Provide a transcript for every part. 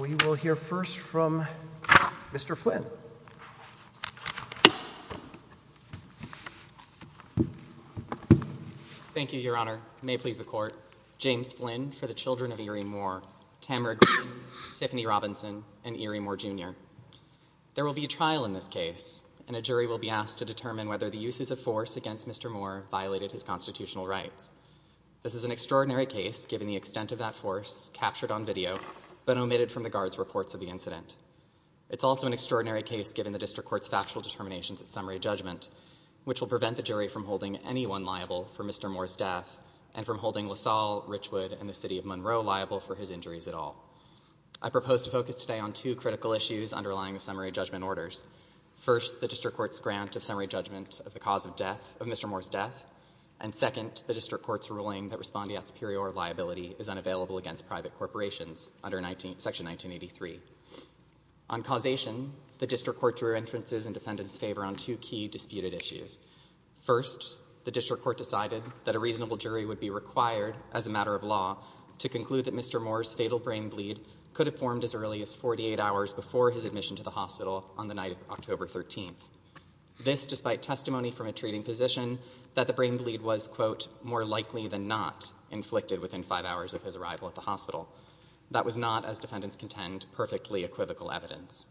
We will hear first from Mr. Flynn. Thank you, Your Honor. May it please the Court. James Flynn for the children of Erie Moore, Tamara Green, Tiffany Robinson, and Erie Moore, Jr. There will be a trial in this case, and a jury will be asked to determine whether the uses of force against Mr. Moore violated his constitutional rights. This is an extraordinary case, given the extent of that force captured on video but omitted from the Guard's reports of the incident. It's also an extraordinary case given the District Court's factual determinations at summary judgment, which will prevent the jury from holding anyone liable for Mr. Moore's death, and from holding LaSalle, Richwood, and the City of Monroe liable for his injuries at all. I propose to focus today on two critical issues underlying the summary judgment orders. First, the District Court's grant of summary judgment of the cause of Mr. Moore's death, and second, the District Court's ruling that Section 1983. On causation, the District Court drew entrances and defendants' favor on two key disputed issues. First, the District Court decided that a reasonable jury would be required, as a matter of law, to conclude that Mr. Moore's fatal brain bleed could have formed as early as 48 hours before his admission to the hospital on the night of October 13th. This, despite testimony from a treating physician, that the brain bleed was, quote, more likely than not, inflicted within five hours of his arrival at the hospital. That was not, as defendants contend, perfectly equivocal evidence.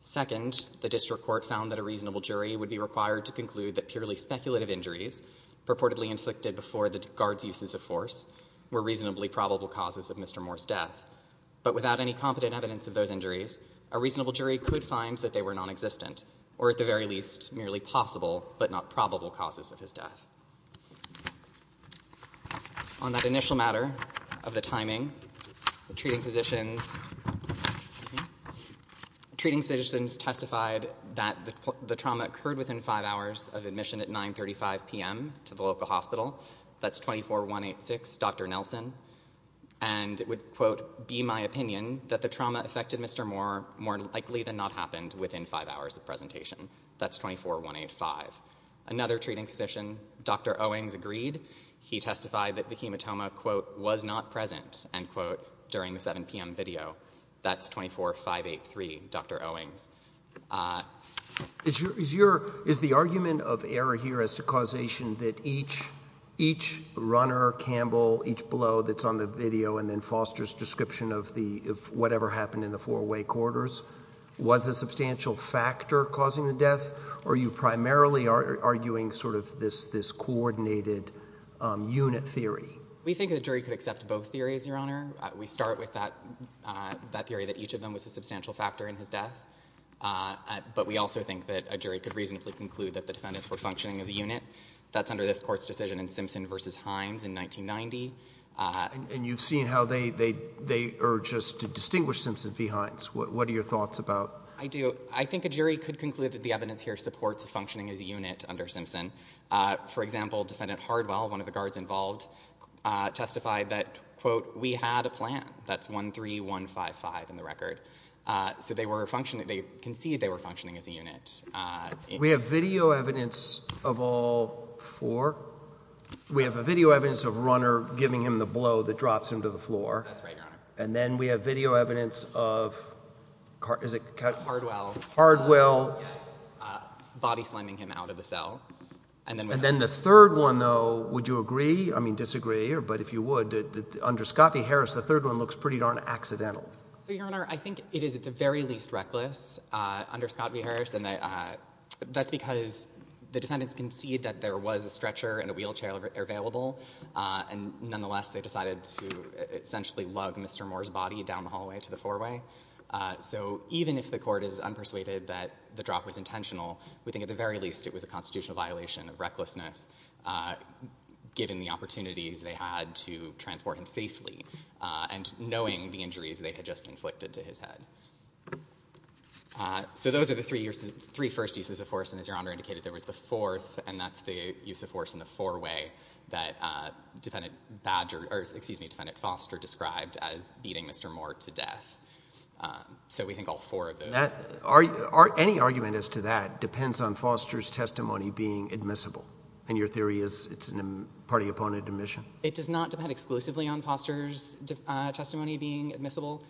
Second, the District Court found that a reasonable jury would be required to conclude that purely speculative injuries, purportedly inflicted before the guard's uses of force, were reasonably probable causes of Mr. Moore's death. But without any competent evidence of those injuries, a reasonable jury could find that they were non-existent, or at the very least, merely possible but not probable causes of his death. On that initial matter of the timing, the treating physicians testified that the trauma occurred within five hours of admission at 9.35 p.m. to the local hospital. That's 24.186, Dr. Nelson. And it would, quote, be my opinion that the trauma affected Mr. Moore more likely than not happened within five hours of presentation. That's 24.185. Another treating physician, Dr. Owings, agreed. He testified that the hematoma, quote, was not present, end quote, during the 7 p.m. video. That's 24.583, Dr. Owings. Is your, is the argument of error here as to causation that each, each runner, Campbell, each blow that's on the video and then Foster's description of the, of whatever happened in the four-way corridors, was a substantial factor causing the death? Or are you primarily arguing sort of this, this coordinated unit theory? We think a jury could accept both theories, Your Honor. We start with that, that theory that each of them was a substantial factor in his death. But we also think that a jury could reasonably conclude that the defendants were functioning as a unit. That's under this court's decision in Simpson v. Hines in 1990. And you've seen how they, they, they urge us to distinguish Simpson v. Hines. What, what are your thoughts about? I do. I think a jury could conclude that the evidence here supports functioning as a unit under Simpson. For example, defendant Hardwell, one of the guards involved, testified that, quote, we had a plan. That's 13155 in the record. So they were functioning, they concede they were functioning as a unit. We have video evidence of all four. We have a video evidence of Runner giving him the blow that drops him to the floor. And then we have video evidence of Hardwell body slamming him out of the cell. And then the third one though, would you agree? I mean, disagree, or, but if you would, under Scott v. Harris, the third one looks pretty darn accidental. So, Your Honor, I think it is at the very least reckless under Scott v. Harris. And that's because the defendants concede that there was a stretcher and a wheelchair available. And nonetheless, they decided to essentially lug Mr. Moore's body down the hallway to the four-way. So even if the court is unpersuaded that the drop was intentional, we think at the very least it was a constitutional violation of recklessness, given the opportunities they had to transport him safely and knowing the injuries they had just inflicted to his head. So those are the three years, three first uses of force. And as Your Honor indicated, there was the fourth, and that's the use of force in the four-way that defendant Badger, or excuse me, defendant Foster described as beating Mr. Moore to death. So we think all four of those. Any argument as to that depends on Foster's testimony being admissible. And your theory is it's a party-opponent admission? It does not depend exclusively on Foster's testimony being admissible.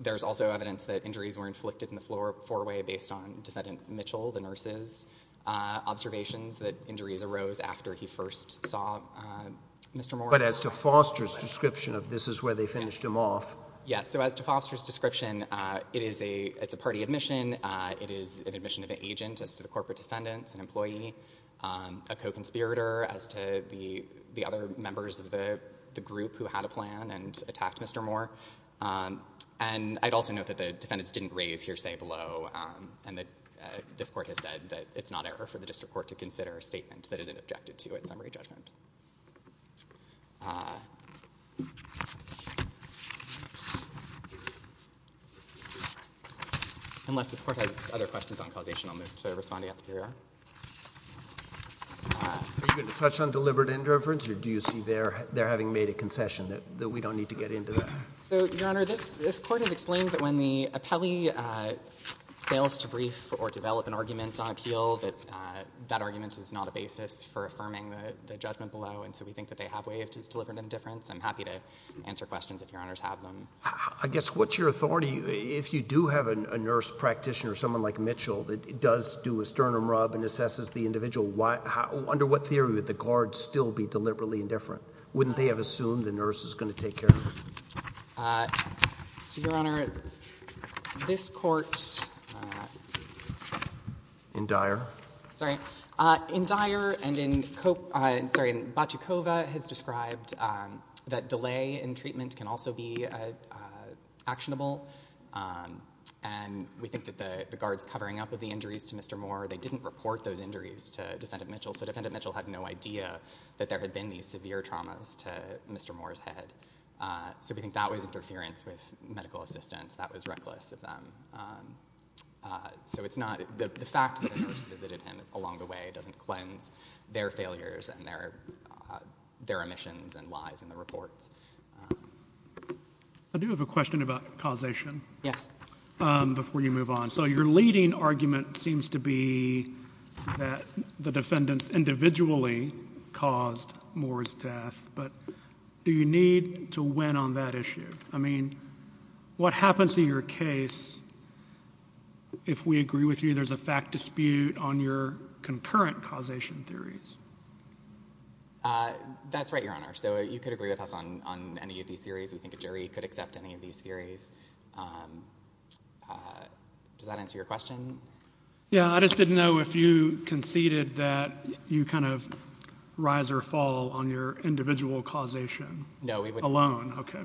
There's also evidence that injuries were inflicted in the four-way based on defendant Mitchell, the nurse's observations that injuries arose after he first saw Mr. Moore. But as to Foster's description of this is where they finished him off? Yes. So as to Foster's description, it's a party admission. It is an admission of an agent as to the corporate defendants, an employee, a co-conspirator as to the other members of the group who had a plan and attacked Mr. Moore. And I'd also note that the defendants didn't raise hearsay below, and that this Court has said that it's not error for the District Court to consider a statement that isn't objected to at summary judgment. Unless this Court has other questions on causation, I'll move to respond to Yes, Your Honor. Are you going to touch on deliberate indifference, or do you see there having made a concession that we don't need to get into that? So, Your Honor, this Court has explained that when the appellee fails to brief or develop an argument on appeal, that that argument is not a basis for affirming the judgment below, and so we think that they have waived his deliberate indifference. I'm happy to answer questions if Your Honors have them. I guess, what's your authority, if you do have a nurse practitioner, someone like Mitchell, that does do a sternum rub and assesses the individual, under what theory would the guard still be deliberately indifferent? Wouldn't they have assumed the nurse is going to take care of him? So, Your Honor, this Court... In Dyer? Sorry. In Dyer and in Koch, sorry, in Boccecova, has described that delay in treatment can also be actionable, and we think that the guards covering up of the injuries to Mr. Moore, they didn't report those injuries to Defendant Mitchell, so Defendant Mitchell had no idea that there had been these severe traumas to Mr. Moore's head. So we think that was interference with medical assistance. That was reckless of them. So it's not... The fact that the nurse visited him along the way doesn't cleanse their failures and their omissions and lies in the reports. I do have a question about causation. Yes. Before you move on. So your leading argument seems to be that the defendants individually caused Moore's death, but do you need to win on that issue? I mean, what happens in your case if we agree with you there's a fact dispute on your concurrent causation theories? That's right, Your Honor. So you could agree with us on any of these theories. We think a jury could accept any of these theories. Does that answer your question? Yeah, I just didn't know if you conceded that you kind of rise or fall on your individual causation alone. No, we wouldn't. Okay.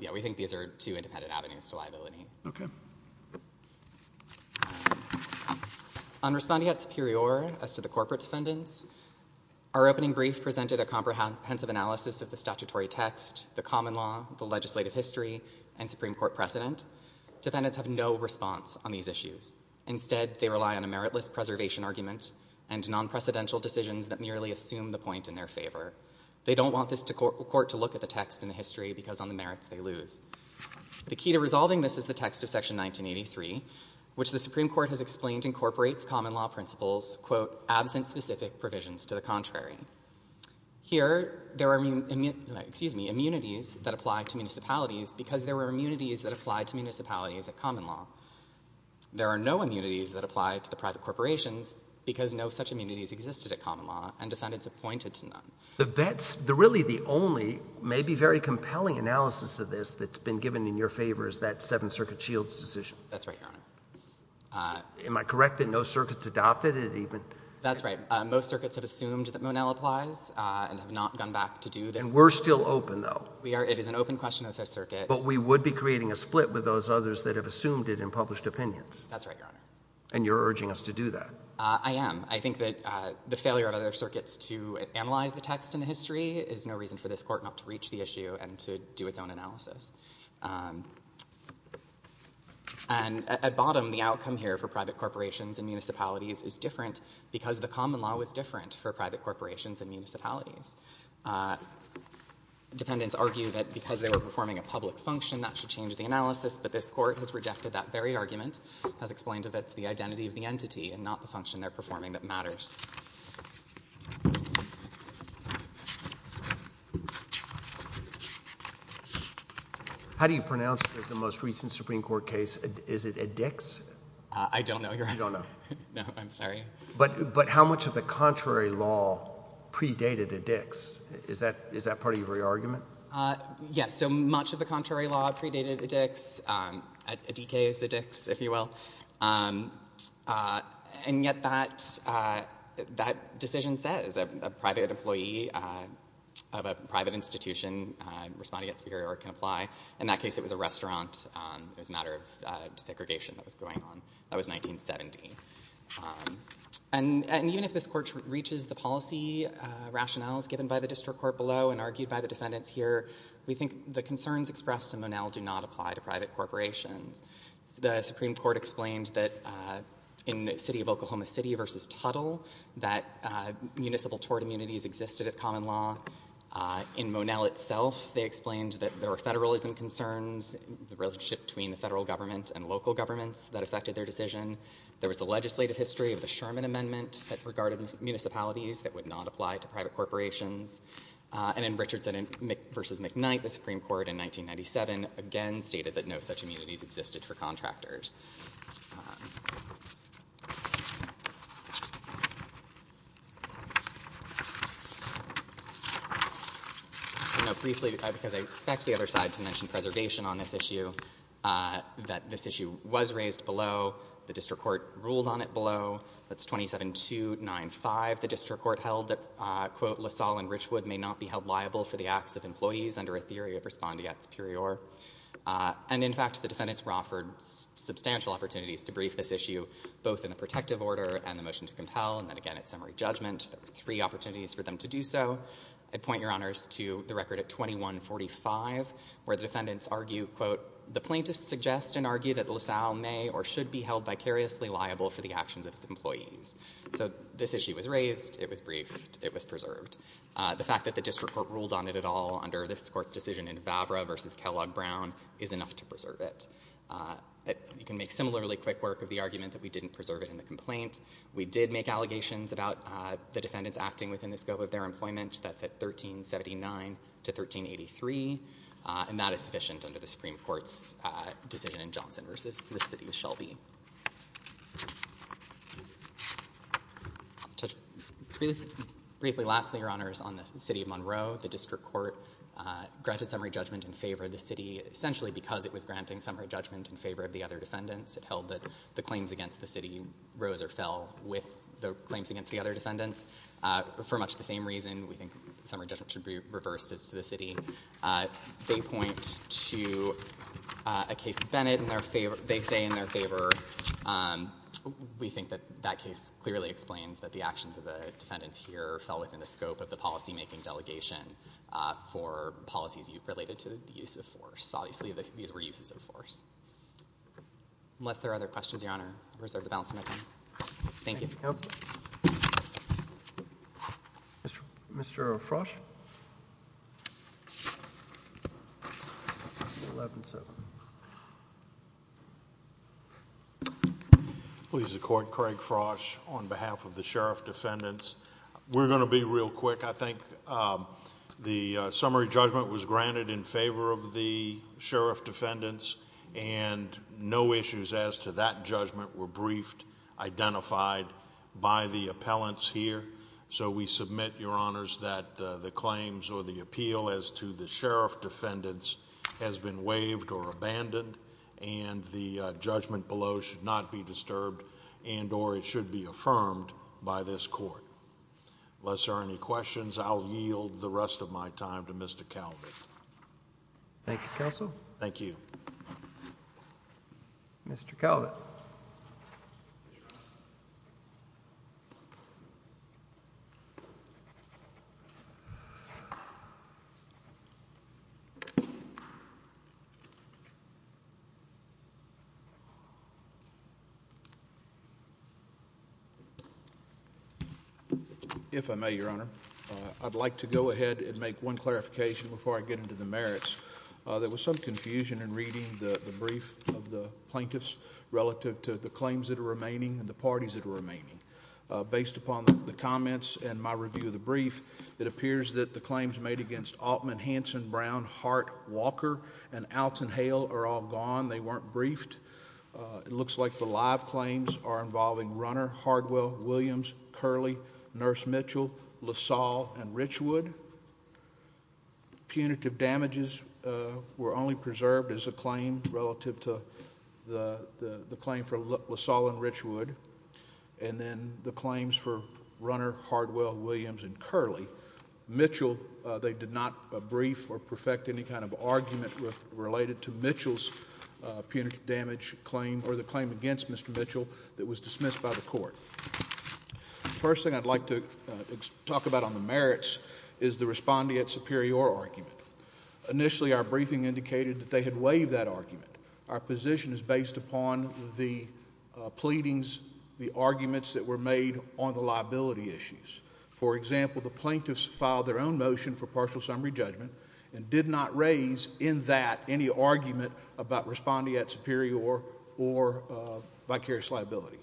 Yeah, we think these are two independent avenues to liability. Okay. On respondeat superior as to the corporate defendants, our opening brief presented a comprehensive analysis of the statutory text, the common law, the legislative history, and Supreme Court precedent. Defendants have no response on these issues. Instead, they rely on a meritless preservation argument and non-precedential decisions that merely assume the point in their favor. They don't want this court to look at the text in the history because on resolving this is the text of section 1983, which the Supreme Court has explained incorporates common law principles, quote, absent specific provisions to the contrary. Here there are immunities that apply to municipalities because there were immunities that apply to municipalities at common law. There are no immunities that apply to the private corporations because no such immunities existed at common law and defendants have pointed to none. The really the only maybe very compelling analysis of this that's been given in your favor is that Seventh Circuit Shields' decision. That's right, Your Honor. Am I correct that no circuit's adopted it even? That's right. Most circuits have assumed that Monell applies and have not gone back to do this. And we're still open, though. We are. It is an open question of the Fifth Circuit. But we would be creating a split with those others that have assumed it in published opinions. That's right, Your Honor. And you're urging us to do that. I am. I think that the failure of other circuits to analyze the text in the history is no reason for this Court not to reach the issue and to do its own analysis. And at bottom, the outcome here for private corporations and municipalities is different because the common law was different for private corporations and municipalities. Defendants argue that because they were performing a public function, that should change the analysis, but this Court has rejected that very argument, has explained that it's the identity of the entity and not the function they're performing that matters. How do you pronounce the most recent Supreme Court case? Is it a Dix? I don't know, Your Honor. You don't know? No, I'm sorry. But how much of the contrary law predated a Dix? Is that part of your argument? Yes. So much of the contrary law predated a Dix. A DK is a Dix, if you will. And yet that decision says a private employee of a private institution responding at Superior can apply. In that case, it was a restaurant. It was a matter of segregation that was going on. That was 1970. And even if this Court reaches the policy rationales given by the District Court below and argued by the defendants here, we think the concerns expressed in Monel do not apply to private corporations. The Supreme Court explained that in the city of Oklahoma City versus Tuttle, that municipal tort immunities existed at common law. In Monel itself, they explained that there were federalism concerns, the relationship between the federal government and local governments that affected their decision. There was the legislative history of the Sherman Amendment that regarded municipalities that would not apply to private corporations. And in Richardson v. McKnight, the Supreme Court in 1997 again stated that no such immunities existed for contractors. Briefly, because I expect the other side to mention preservation on this issue, that this issue was raised below. The District Court ruled on it below. That's 27295. The District Court held that, quote, LaSalle and Richwood may not be held liable for the acts of employees under a theory of respondeat superior. And in fact, the defendants were offered substantial opportunities to brief this issue, both in a protective order and the motion to compel. And then again, at summary judgment, there were three opportunities for them to do so. I'd point your honors to the record at 2145, where the defendants argue, quote, the plaintiffs suggest and argue that LaSalle may or should be held vicariously liable for the actions of his employees. So this issue was raised. It was briefed. It was preserved. The fact that the District Court ruled on it at all under this Court's decision in Vavra v. Kellogg Brown is enough to preserve it. You can make similarly quick work of the argument that we didn't preserve it in the complaint. We did make allegations about the defendants acting within the scope of their employment. That's at 1379 to 1383. And that is sufficient under the Supreme Court's decision in Johnson v. Shelby. Briefly, lastly, your honors, on the city of Monroe, the District Court granted summary judgment in favor of the city, essentially because it was granting summary judgment in favor of the other defendants. It held that the claims against the city rose or fell with the claims against the other defendants. For much the same reason, we think summary judgment should be reversed as to the city. They point to a case of Bennett. They say in their favor. We think that that case clearly explains that the actions of the defendants here fell within the scope of the policymaking delegation for policies related to the use of force. Obviously, these were uses of force. Unless there are other questions, your honor, I reserve the balance of my time. Thank you. Thank you, counsel. Mr. Frosch? 11-7. Please accord, Craig Frosch, on behalf of the sheriff defendants. We're going to be real quick. I think the summary judgment was granted in favor of the sheriff defendants, and no issues as to that judgment were briefed, identified by the appellants here, so we submit, your honors, that the claims or the appeal as to the sheriff defendants has been waived or abandoned, and the judgment below should not be disturbed and or it should be affirmed by this court. Unless there are any questions, I'll yield the rest of my time to Mr. Calvin. Thank you, counsel. Thank you. Mr. Calvin? If I may, your honor, I'd like to go ahead and make one clarification before I get into the merits. There was some confusion in reading the brief of the plaintiffs relative to the claims that are remaining and the parties that are remaining. Based upon the comments and my review of the brief, it appears that the claims made against Altman, Hanson, Brown, Hart, Walker, and Alton Hale are all gone. They weren't briefed. It looks like the live claims are involving Runner, Hardwell, Williams, Curley, Nurse Mitchell, LaSalle, and Richwood. Punitive damages were only preserved as a claim relative to the claim for LaSalle and Richwood, and then the claims for Runner, Hardwell, Williams, and Curley. Mitchell, they did not brief or perfect any kind of argument related to Mitchell's punitive damage claim or the claim against Mr. Mitchell that was dismissed by the court. The first thing I'd like to talk about on the merits is the respondeat superior argument. Initially, our briefing indicated that they had waived that argument. Our position is based upon the pleadings, the arguments that were made on the liability issues. For example, the plaintiffs filed their own motion for partial summary judgment and did not raise in that any argument about respondeat superior or vicarious liability.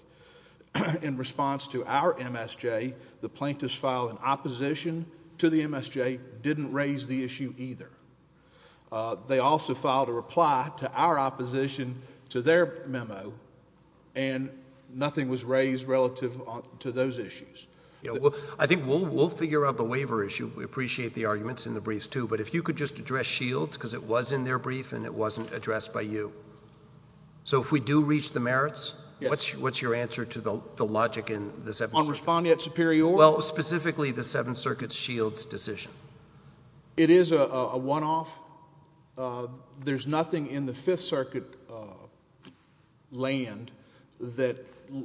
In response to our MSJ, the plaintiffs filed an opposition to the MSJ, didn't raise the issue either. They also filed a reply to our opposition to their memo, and nothing was raised relative to those issues. I think we'll figure out the waiver issue. We appreciate the arguments in the briefs, too, but if you could just address Shields, because it was in their brief and it wasn't addressed by you. So if we do reach the merits, what's your answer to the logic in the 7th Circuit? On respondeat superior? Well, specifically the 7th Circuit's Shields decision. It is a one-off. There's nothing in the 5th Circuit land that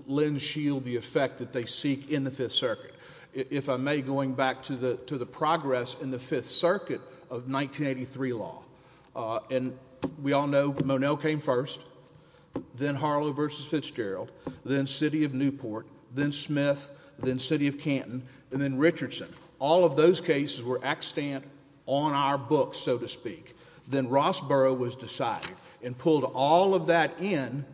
lends Shields the effect that they seek in the 5th Circuit. If I may, going back to the progress in the 5th Circuit of 1983 law, and we all know that Monel came first, then Harlow v. Fitzgerald, then City of Newport, then Smith, then City of Canton, and then Richardson. All of those cases were extant on our books, so to speak. Then Rossborough was decided and pulled all of that in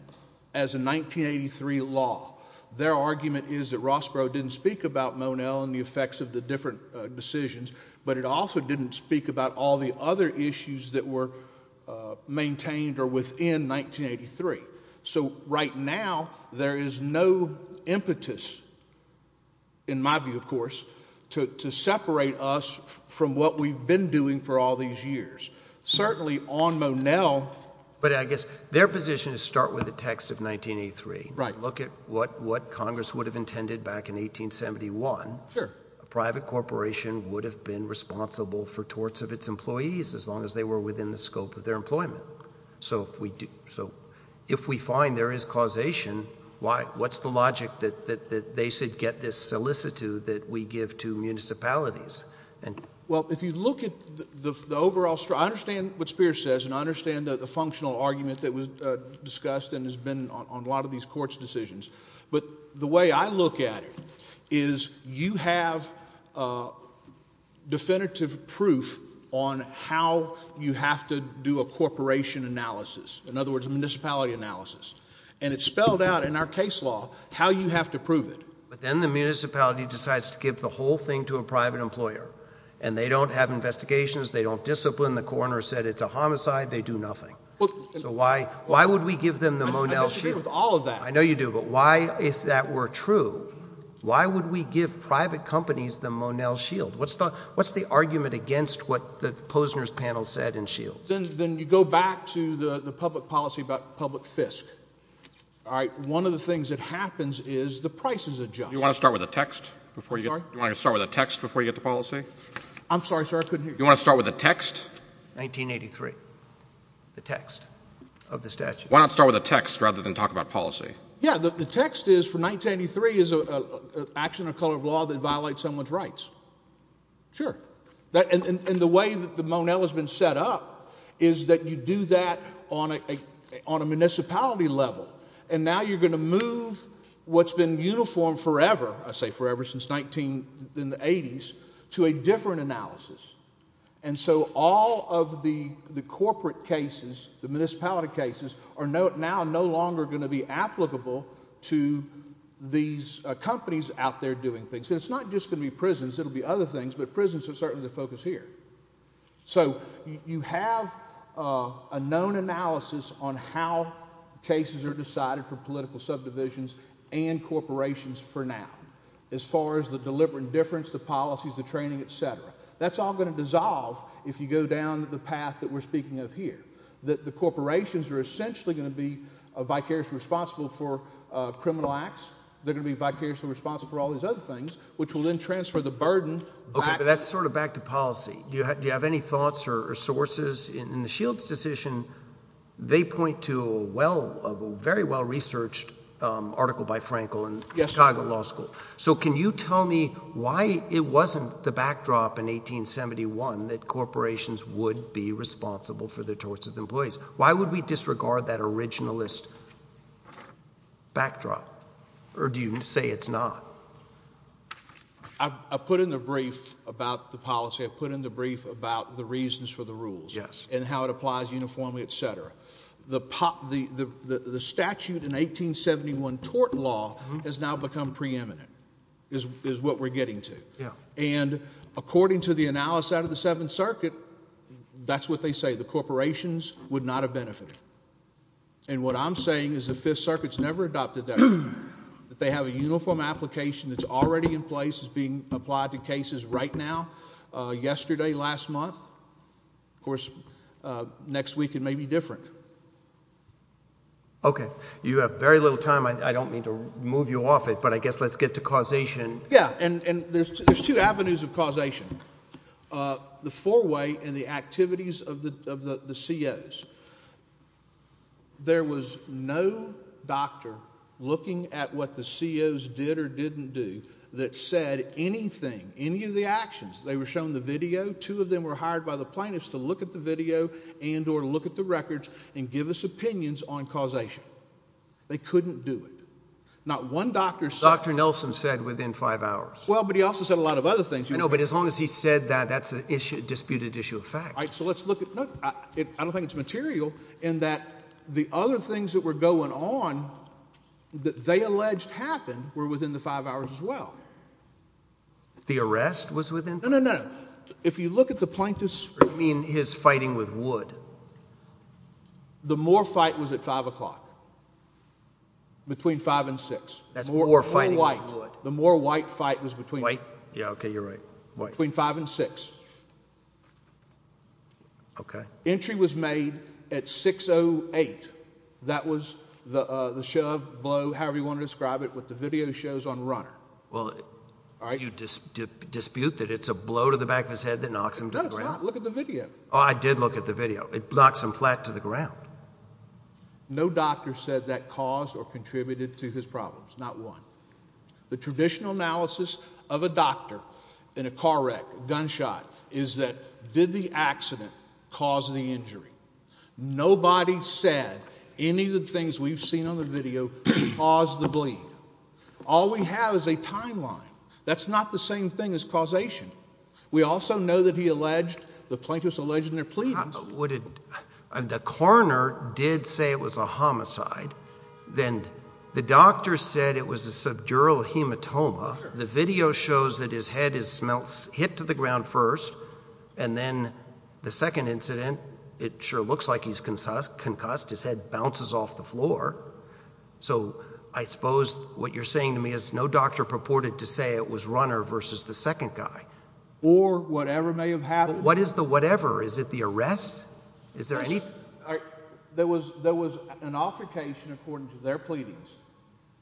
as a 1983 law. Their argument is that Rossborough didn't speak about Monel and the effects of the different decisions, but it also didn't speak about all the other issues that were maintained or within 1983. So right now, there is no impetus, in my view of course, to separate us from what we've been doing for all these years. Certainly on Monel— But I guess their position is start with the text of 1983. Right. Look at what Congress would have intended back in 1871. Sure. A private corporation would have been responsible for torts of its employees as long as they were within the scope of their employment. So if we find there is causation, what's the logic that they should get this solicitude that we give to municipalities? Well, if you look at the overall—I understand what Spears says, and I understand the functional argument that was discussed and has been on a lot of these courts' decisions. But the way I look at it is you have definitive proof on how you have to do a corporation analysis. In other words, a municipality analysis. And it's spelled out in our case law how you have to prove it. But then the municipality decides to give the whole thing to a private employer. And they don't have investigations. They don't discipline. The coroner said it's a homicide. They do nothing. So why would we give them the Monel shield? I disagree with all of that. I know you do. But why, if that were true, why would we give private companies the Monel shield? What's the argument against what the Posner's panel said in Shields? Then you go back to the public policy about public fisc. All right? One of the things that happens is the prices adjust. Do you want to start with a text before you get to policy? I'm sorry, sir. I couldn't hear you. Do you want to start with a text? 1983, the text of the statute. Why not start with a text rather than talk about policy? Yeah. The text is, for 1983, is an action of color of law that violates someone's rights. Sure. And the way that the Monel has been set up is that you do that on a municipality level. And now you're going to move what's been uniform forever, I say forever since the 1980s, to a different analysis. And so all of the corporate cases, the municipality cases, are now no longer going to be applicable to these companies out there doing things. And it's not just going to be prisons. It will be other things. But prisons are certainly the focus here. So you have a known analysis on how cases are decided for political subdivisions and corporations for now as far as the deliberate indifference, the policies, the training, et cetera. That's all going to dissolve if you go down the path that we're speaking of here. The corporations are essentially going to be vicariously responsible for criminal acts. They're going to be vicariously responsible for all these other things, which will then transfer the burden back. Okay, but that's sort of back to policy. Do you have any thoughts or sources? In the Shields decision, they point to a very well-researched article by Frankel in Chicago Law School. So can you tell me why it wasn't the backdrop in 1871 that corporations would be responsible for the torts of employees? Why would we disregard that originalist backdrop? Or do you say it's not? I put in the brief about the policy. I put in the brief about the reasons for the rules and how it applies uniformly, et cetera. The statute in 1871 tort law has now become preeminent, is what we're getting to. And according to the analysis out of the Seventh Circuit, that's what they say. The corporations would not have benefited. And what I'm saying is the Fifth Circuit's never adopted that. They have a uniform application that's already in place. It's being applied to cases right now. Yesterday, last month. Of course, next week it may be different. Okay. You have very little time. I don't mean to move you off it, but I guess let's get to causation. Yeah, and there's two avenues of causation, the four-way and the activities of the COs. There was no doctor looking at what the COs did or didn't do that said anything, any of the actions. They were shown the video. Two of them were hired by the plaintiffs to look at the video and or look at the records and give us opinions on causation. They couldn't do it. Not one doctor saw it. Dr. Nelson said within five hours. Well, but he also said a lot of other things. I know, but as long as he said that, that's a disputed issue of fact. All right, so let's look at it. I don't think it's material in that the other things that were going on that they alleged happened were within the five hours as well. The arrest was within five hours? No, no, no. If you look at the plaintiffs. You mean his fighting with Wood? The Moore fight was at 5 o'clock, between 5 and 6. That's Moore fighting with Wood. The Moore-White fight was between 5 and 6. Okay. Entry was made at 6.08. That was the shove, blow, however you want to describe it with the video shows on runner. Well, do you dispute that it's a blow to the back of his head that knocks him to the ground? No, it's not. Look at the video. Oh, I did look at the video. It knocks him flat to the ground. No doctor said that caused or contributed to his problems. Not one. The traditional analysis of a doctor in a car wreck, gunshot, is that did the accident cause the injury? Nobody said any of the things we've seen on the video caused the bleed. All we have is a timeline. That's not the same thing as causation. We also know that he alleged, the plaintiffs alleged in their pleadings. The coroner did say it was a homicide. Then the doctor said it was a subdural hematoma. The video shows that his head is hit to the ground first. And then the second incident, it sure looks like he's concussed. His head bounces off the floor. So I suppose what you're saying to me is no doctor purported to say it was Runner versus the second guy. Or whatever may have happened. What is the whatever? Is it the arrest? There was an altercation, according to their pleadings,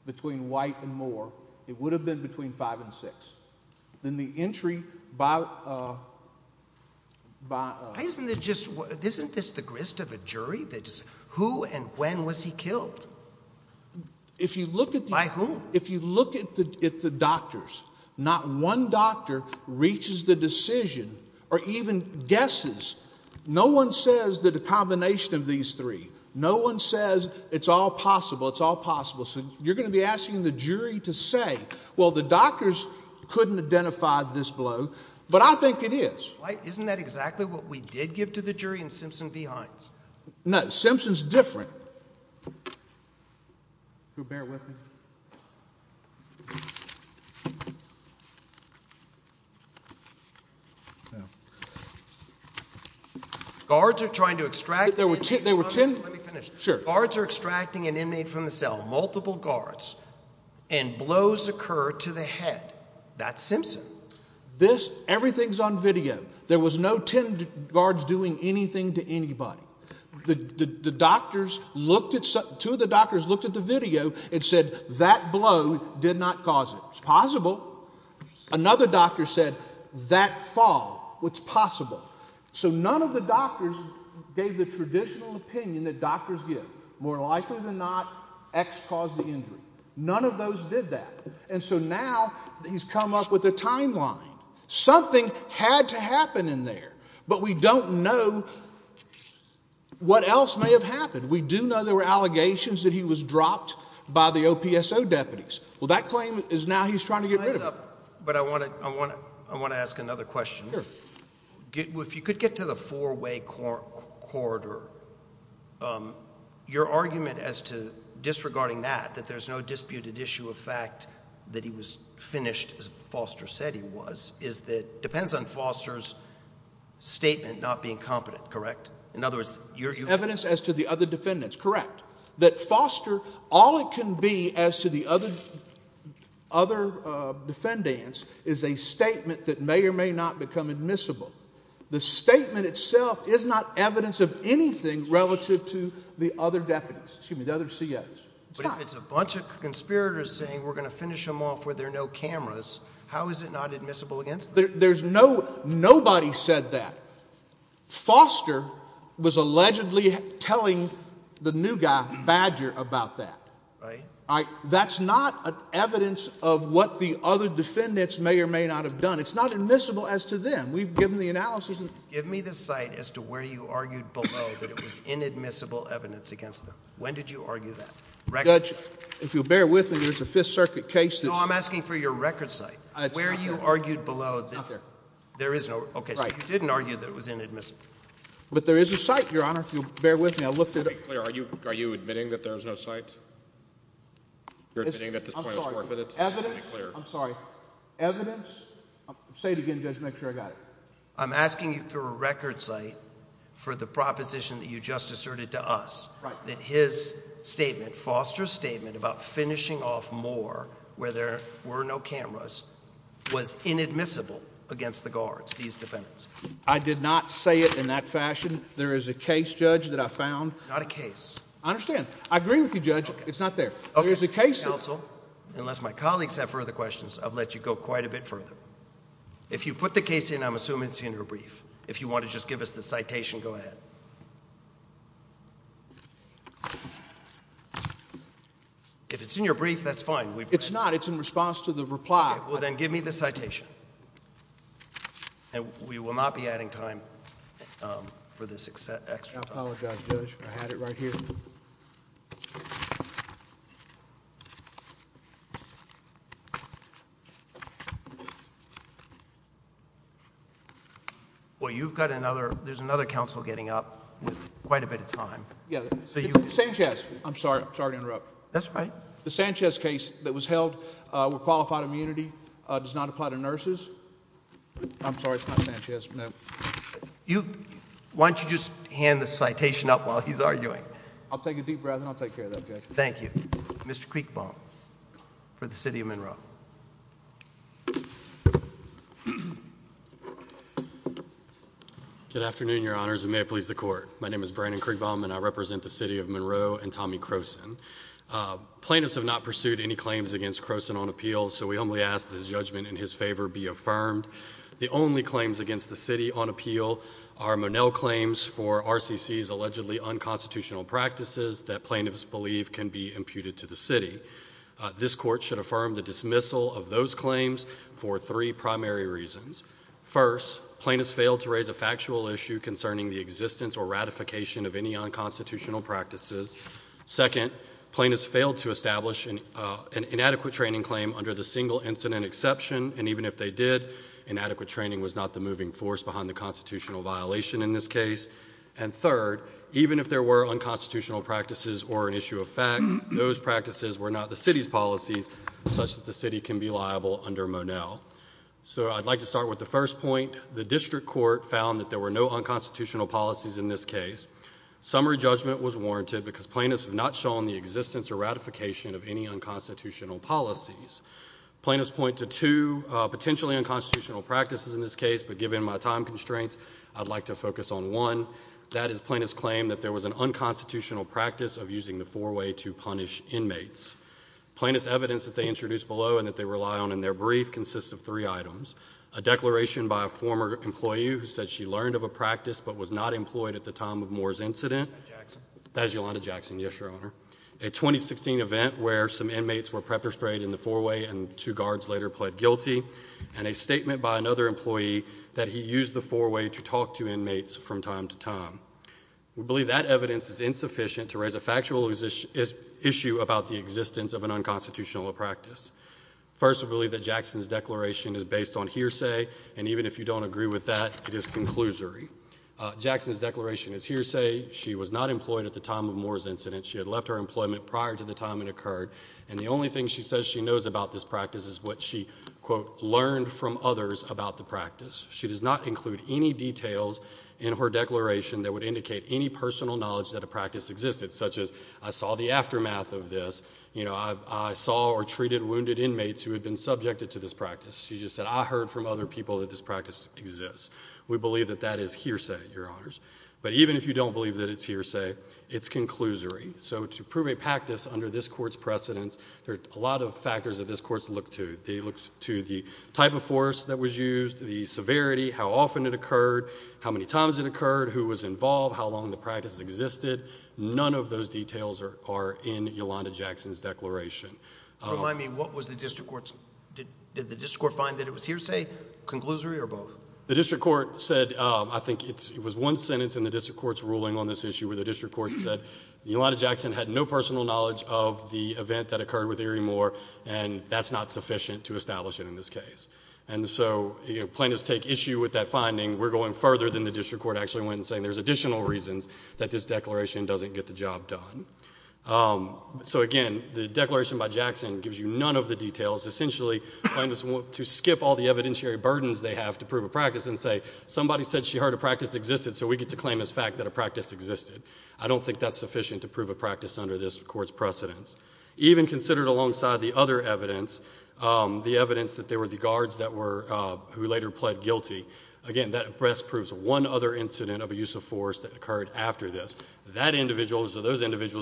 between White and Moore. It would have been between 5 and 6. Then the entry by a… Isn't this the grist of a jury? Who and when was he killed? By whom? If you look at the doctors, not one doctor reaches the decision or even guesses. No one says that a combination of these three. No one says it's all possible, it's all possible. So you're going to be asking the jury to say, well, the doctors couldn't identify this blow. But I think it is. No, Simpson's different. Guards are trying to extract an inmate from the cell. Guards are extracting an inmate from the cell. Multiple guards. And blows occur to the head. That's Simpson. Everything's on video. There was no 10 guards doing anything to anybody. The doctors looked at… Two of the doctors looked at the video and said that blow did not cause it. It's possible. Another doctor said that fall. It's possible. So none of the doctors gave the traditional opinion that doctors give. More likely than not, X caused the injury. None of those did that. And so now he's come up with a timeline. Something had to happen in there. But we don't know what else may have happened. We do know there were allegations that he was dropped by the OPSO deputies. Well, that claim is now he's trying to get rid of it. But I want to ask another question. Sure. If you could get to the four-way corridor, your argument as to disregarding that, that there's no disputed issue of fact that he was finished, as Foster said he was, is that it depends on Foster's statement not being competent, correct? In other words, your argument. Evidence as to the other defendants, correct. That Foster, all it can be as to the other defendants is a statement that may or may not become admissible. The statement itself is not evidence of anything relative to the other deputies, but if it's a bunch of conspirators saying we're going to finish them off where there are no cameras, how is it not admissible against them? Nobody said that. Foster was allegedly telling the new guy, Badger, about that. That's not evidence of what the other defendants may or may not have done. It's not admissible as to them. We've given the analysis. Give me the site as to where you argued below that it was inadmissible evidence against them. When did you argue that? Judge, if you'll bear with me, there's a Fifth Circuit case that's— No, I'm asking for your record site. Where you argued below that there is no— Right. Okay, so you didn't argue that it was inadmissible. But there is a site, Your Honor, if you'll bear with me. Are you admitting that there is no site? You're admitting that this point is forfeited? I'm sorry. Evidence—I'm sorry. Evidence—say it again, Judge, make sure I got it. I'm asking you for a record site for the proposition that you just asserted to us. Right. That his statement, Foster's statement about finishing off Moore where there were no cameras, was inadmissible against the guards, these defendants. I did not say it in that fashion. There is a case, Judge, that I found— Not a case. I understand. I agree with you, Judge. It's not there. There is a case— Counsel, unless my colleagues have further questions, I'll let you go quite a bit further. If you put the case in, I'm assuming it's in your brief. If you want to just give us the citation, go ahead. If it's in your brief, that's fine. It's not. It's in response to the reply. Well, then give me the citation. And we will not be adding time for this extra time. I apologize, Judge. I had it right here. Well, you've got another—there's another counsel getting up with quite a bit of time. Yeah. Sanchez. I'm sorry. I'm sorry to interrupt. That's fine. The Sanchez case that was held with qualified immunity does not apply to nurses. I'm sorry. It's not Sanchez. No. Why don't you just hand the citation up while he's arguing? I'll take a deep breath, and I'll take care of that, Judge. Thank you. Mr. Kriegbaum for the City of Monroe. Good afternoon, Your Honors, and may it please the Court. My name is Brandon Kriegbaum, and I represent the City of Monroe and Tommy Croson. Plaintiffs have not pursued any claims against Croson on appeal, so we humbly ask that his judgment in his favor be affirmed. The only claims against the City on appeal are Monell claims for RCC's allegedly unconstitutional practices that plaintiffs believe can be imputed to the City. This Court should affirm the dismissal of those claims for three primary reasons. First, plaintiffs failed to raise a factual issue concerning the existence or ratification of any unconstitutional practices. Second, plaintiffs failed to establish an inadequate training claim under the single incident exception, and even if they did, inadequate training was not the moving force behind the constitutional violation in this case. And third, even if there were unconstitutional practices or an issue of fact, those practices were not the City's policies such that the City can be liable under Monell. So I'd like to start with the first point. The district court found that there were no unconstitutional policies in this case. Summary judgment was warranted because plaintiffs have not shown the existence or ratification of any unconstitutional policies. Plaintiffs point to two potentially unconstitutional practices in this case, but given my time constraints, I'd like to focus on one. That is, plaintiffs claim that there was an unconstitutional practice of using the four-way to punish inmates. Plaintiffs' evidence that they introduced below and that they rely on in their brief consists of three items. A declaration by a former employee who said she learned of a practice but was not employed at the time of Moore's incident. That's Yolanda Jackson. That's Yolanda Jackson, yes, Your Honor. A 2016 event where some inmates were pepper-sprayed in the four-way and two guards later pled guilty, and a statement by another employee that he used the four-way to talk to inmates from time to time. We believe that evidence is insufficient to raise a factual issue about the existence of an unconstitutional practice. First, we believe that Jackson's declaration is based on hearsay, and even if you don't agree with that, it is conclusory. Jackson's declaration is hearsay. She was not employed at the time of Moore's incident. She had left her employment prior to the time it occurred, and the only thing she says she knows about this practice is what she, quote, learned from others about the practice. She does not include any details in her declaration that would indicate any personal knowledge that a practice existed, such as, I saw the aftermath of this, you know, I saw or treated wounded inmates who had been subjected to this practice. She just said, I heard from other people that this practice exists. We believe that that is hearsay, Your Honors. But even if you don't believe that it's hearsay, it's conclusory. So to prove a practice under this Court's precedence, there are a lot of factors that this Court's looked to. They looked to the type of force that was used, the severity, how often it occurred, how many times it occurred, who was involved, how long the practice existed. None of those details are in Yolanda Jackson's declaration. Remind me, what was the district court's – did the district court find that it was hearsay, conclusory, or both? The district court said – I think it was one sentence in the district court's ruling on this issue where the district court said Yolanda Jackson had no personal knowledge of the event that occurred with Erie Moore, and that's not sufficient to establish it in this case. And so plaintiffs take issue with that finding. We're going further than the district court actually went and saying there's additional reasons that this declaration doesn't get the job done. So again, the declaration by Jackson gives you none of the details. Essentially, plaintiffs want to skip all the evidentiary burdens they have to prove a practice and say, somebody said she heard a practice existed, so we get to claim as fact that a practice existed. I don't think that's sufficient to prove a practice under this Court's precedence. Even considered alongside the other evidence, the evidence that there were the guards that were – who later pled guilty, again, that best proves one other incident of a use of force that occurred after this. Those individuals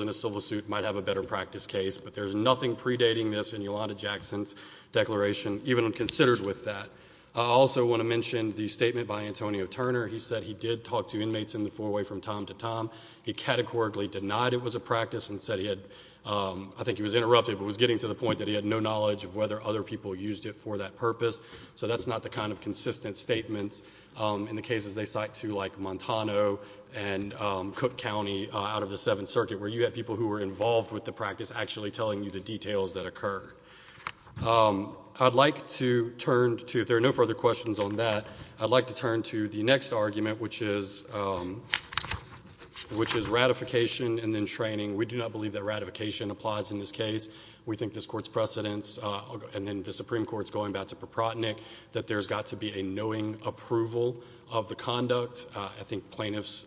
in a civil suit might have a better practice case, but there's nothing predating this in Yolanda Jackson's declaration, even considered with that. I also want to mention the statement by Antonio Turner. He said he did talk to inmates in the four-way from time to time. He categorically denied it was a practice and said he had – I think he was interrupted, but was getting to the point that he had no knowledge of whether other people used it for that purpose. So that's not the kind of consistent statements in the cases they cite, too, like Montano and Cook County out of the Seventh Circuit, where you had people who were involved with the practice actually telling you the details that occurred. I'd like to turn to – if there are no further questions on that, I'd like to turn to the next argument, which is ratification and then training. We do not believe that ratification applies in this case. We think this Court's precedence, and then the Supreme Court's going back to Paprotnik, that there's got to be a knowing approval of the conduct. I think plaintiffs,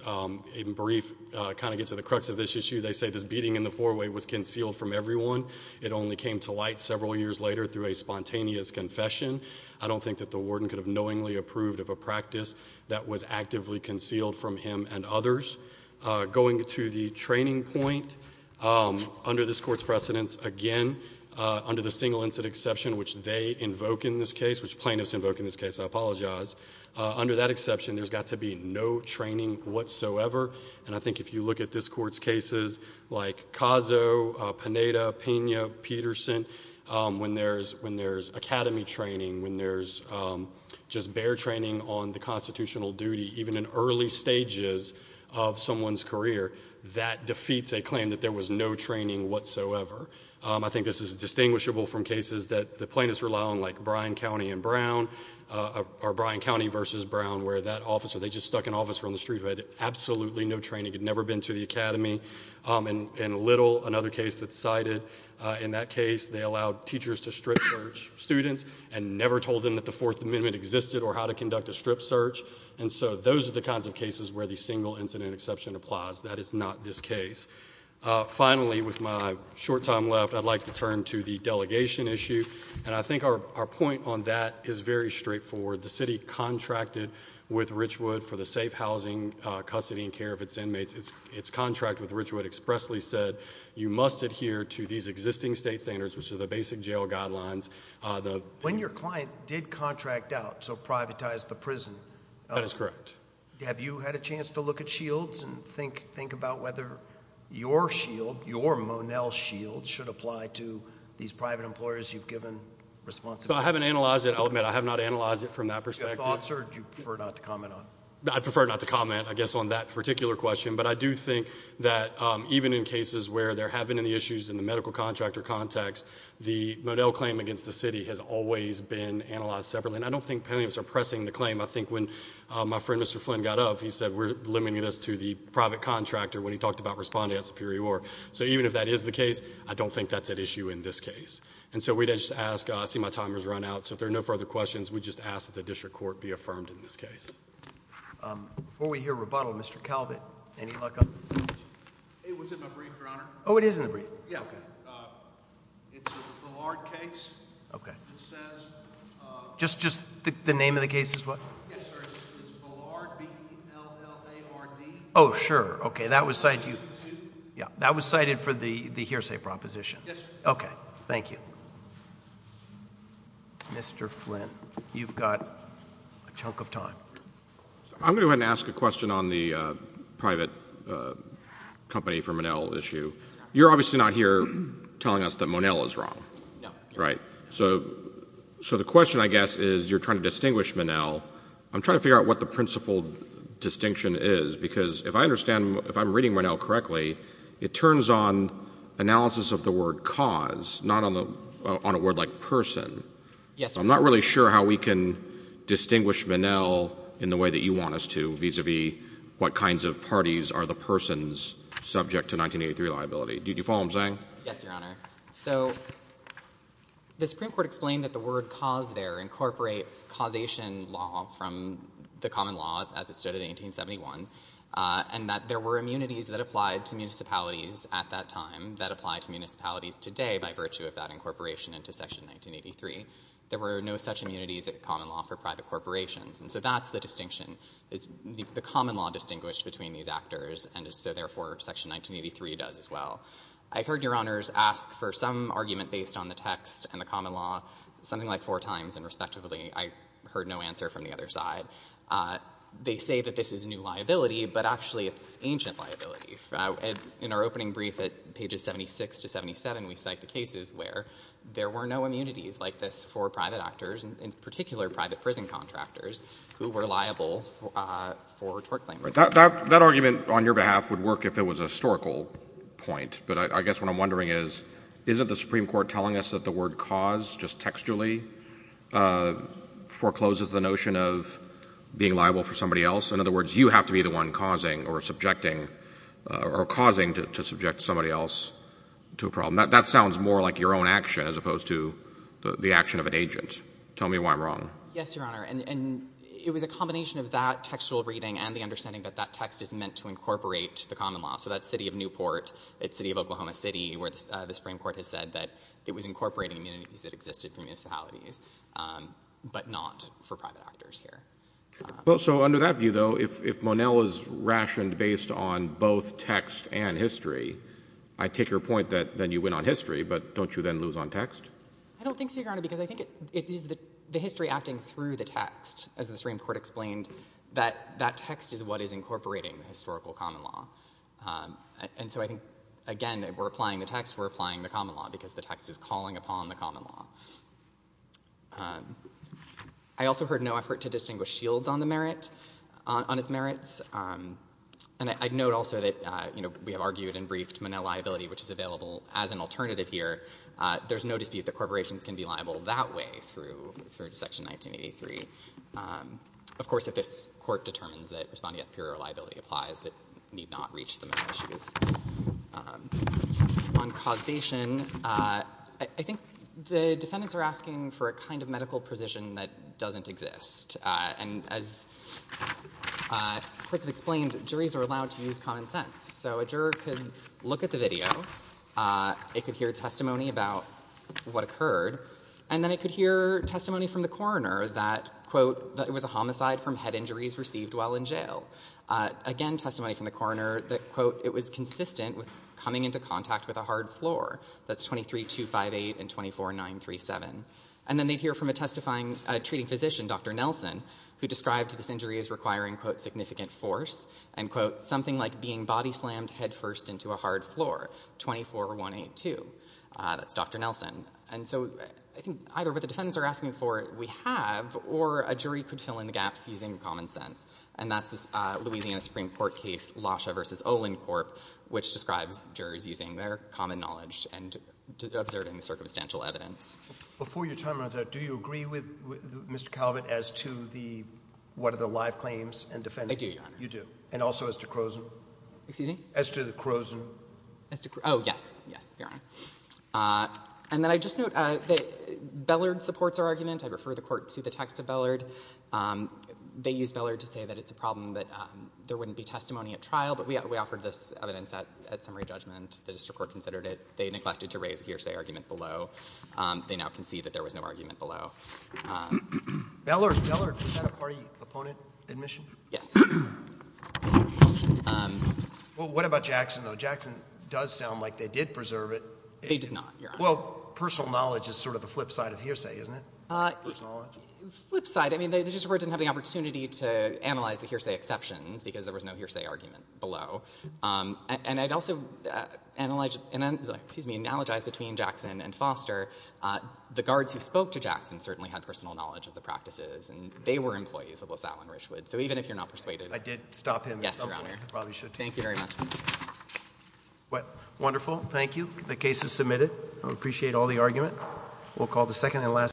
in brief, kind of get to the crux of this issue. They say this beating in the four-way was concealed from everyone. It only came to light several years later through a spontaneous confession. I don't think that the warden could have knowingly approved of a practice that was actively concealed from him and others. Going to the training point, under this Court's precedence, again, under the single incident exception which they invoke in this case, which plaintiffs invoke in this case, I apologize, under that exception, there's got to be no training whatsoever. And I think if you look at this Court's cases like Cazo, Panetta, Pena, Peterson, when there's academy training, when there's just bare training on the constitutional duty, even in early stages of someone's career, that defeats a claim that there was no training whatsoever. I think this is distinguishable from cases that the plaintiffs rely on, like Bryan County and Brown, or Bryan County versus Brown, where that officer, they just stuck an officer on the street who had absolutely no training, had never been to the academy. In Little, another case that's cited, in that case, they allowed teachers to strip search students and never told them that the Fourth Amendment existed or how to conduct a strip search. And so those are the kinds of cases where the single incident exception applies. That is not this case. Finally, with my short time left, I'd like to turn to the delegation issue. And I think our point on that is very straightforward. The city contracted with Richwood for the safe housing, custody, and care of its inmates. Its contract with Richwood expressly said you must adhere to these existing state standards, which are the basic jail guidelines. When your client did contract out, so privatized the prison, have you had a chance to look at shields and think about whether your shield, your Monell shield, should apply to these private employers you've given responsibility to? I haven't analyzed it. I'll admit I have not analyzed it from that perspective. Do you have thoughts or do you prefer not to comment on it? I prefer not to comment, I guess, on that particular question. But I do think that even in cases where there have been any issues in the medical contractor context, the Monell claim against the city has always been analyzed separately. And I don't think plaintiffs are pressing the claim. I think when my friend Mr. Flynn got up, he said we're limiting this to the private contractor when he talked about responding at Superior Court. So even if that is the case, I don't think that's at issue in this case. And so we'd just ask—I see my timer's run out. So if there are no further questions, we just ask that the district court be affirmed in this case. Before we hear rebuttal, Mr. Calvin, any luck on this case? It was in my brief, Your Honor. Oh, it is in the brief. Yeah, okay. It's a Ballard case. Okay. It says— Just the name of the case is what? Yes, sir. It's Ballard, B-L-L-A-R-D. Oh, sure. Okay. That was cited for the hearsay proposition. Yes, sir. Okay. Thank you. Mr. Flynn, you've got a chunk of time. I'm going to go ahead and ask a question on the private company for Monell issue. You're obviously not here telling us that Monell is wrong. No. Right. So the question, I guess, is you're trying to distinguish Monell. I'm trying to figure out what the principal distinction is, because if I understand—if I'm reading Monell correctly, it turns on analysis of the word cause, not on a word like person. Yes, sir. I'm not really sure how we can distinguish Monell in the way that you want us to, vis-à-vis what kinds of parties are the persons subject to 1983 liability. Do you follow what I'm saying? Yes, Your Honor. So the Supreme Court explained that the word cause there incorporates causation law from the common law, as it stood in 1871, and that there were immunities that applied to municipalities at that time that apply to municipalities today by virtue of that incorporation into Section 1983. There were no such immunities at common law for private corporations. And so that's the distinction, is the common law distinguished between these actors, and so therefore Section 1983 does as well. I heard Your Honors ask for some argument based on the text and the common law something like four times, and respectively I heard no answer from the other side. They say that this is new liability, but actually it's ancient liability. In our opening brief at pages 76 to 77, we cite the cases where there were no immunities like this for private actors, in particular private prison contractors, who were liable for tort claims. That argument on your behalf would work if it was a historical point, but I guess what I'm wondering is isn't the Supreme Court telling us that the word cause just textually forecloses the notion of being liable for somebody else? In other words, you have to be the one causing or subjecting or causing to subject somebody else to a problem. That sounds more like your own action as opposed to the action of an agent. Tell me why I'm wrong. Yes, Your Honor, and it was a combination of that textual reading and the understanding that that text is meant to incorporate the common law. So that's city of Newport, it's city of Oklahoma City, where the Supreme Court has said that it was incorporating immunities that existed for municipalities, but not for private actors here. Well, so under that view, though, if Monell is rationed based on both text and history, I take your point that then you win on history, but don't you then lose on text? I don't think so, Your Honor, because I think it is the history acting through the text, as the Supreme Court explained, that that text is what is incorporating the historical common law. And so I think, again, we're applying the text, we're applying the common law, because the text is calling upon the common law. I also heard no effort to distinguish Shields on the merit, on its merits, and I'd note also that, you know, we have argued and briefed Monell liability, which is available as an alternative here. There's no dispute that corporations can be liable that way through Section 1983. Of course, if this Court determines that responding against pure liability applies, it need not reach the Monell issues. On causation, I think the defendants are asking for a kind of medical precision that doesn't exist. And as courts have explained, juries are allowed to use common sense. So a juror could look at the video, it could hear testimony about what occurred, and then it could hear testimony from the coroner that, quote, that it was a homicide from head injuries received while in jail. Again, testimony from the coroner that, quote, it was consistent with coming into contact with a hard floor. That's 23258 and 24937. And then they'd hear from a testifying treating physician, Dr. Nelson, who described this injury as requiring, quote, significant force, and, quote, something like being body slammed head first into a hard floor, 24182. That's Dr. Nelson. And so I think either what the defendants are asking for, we have, or a jury could fill in the gaps using common sense. And that's this Louisiana Supreme Court case, Lascia v. Olincorp, which describes juries using their common knowledge and observing the circumstantial evidence. Before your time runs out, do you agree with Mr. Calvert as to the, what are the live claims and defendants? I do, Your Honor. You do. And also as to Croson? Excuse me? As to the Croson. Oh, yes. Yes, Your Honor. And then I just note that Bellard supports our argument. I refer the court to the text of Bellard. They use Bellard to say that it's a problem, that there wouldn't be testimony at trial. But we offered this evidence at summary judgment. The district court considered it. They neglected to raise a hearsay argument below. They now concede that there was no argument below. Bellard, was that a party opponent admission? Yes. Well, what about Jackson, though? Jackson does sound like they did preserve it. They did not, Your Honor. Well, personal knowledge is sort of the flip side of hearsay, isn't it? Flip side. I mean, the district court didn't have the opportunity to analyze the hearsay exceptions because there was no hearsay argument below. And I'd also analogize between Jackson and Foster. The guards who spoke to Jackson certainly had personal knowledge of the practices, and they were employees of LaSalle and Richwood. So even if you're not persuaded. I did stop him. Yes, Your Honor. I probably should, too. Thank you very much. Wonderful. Thank you. The case is submitted. I appreciate all the argument. We'll call the second and last case.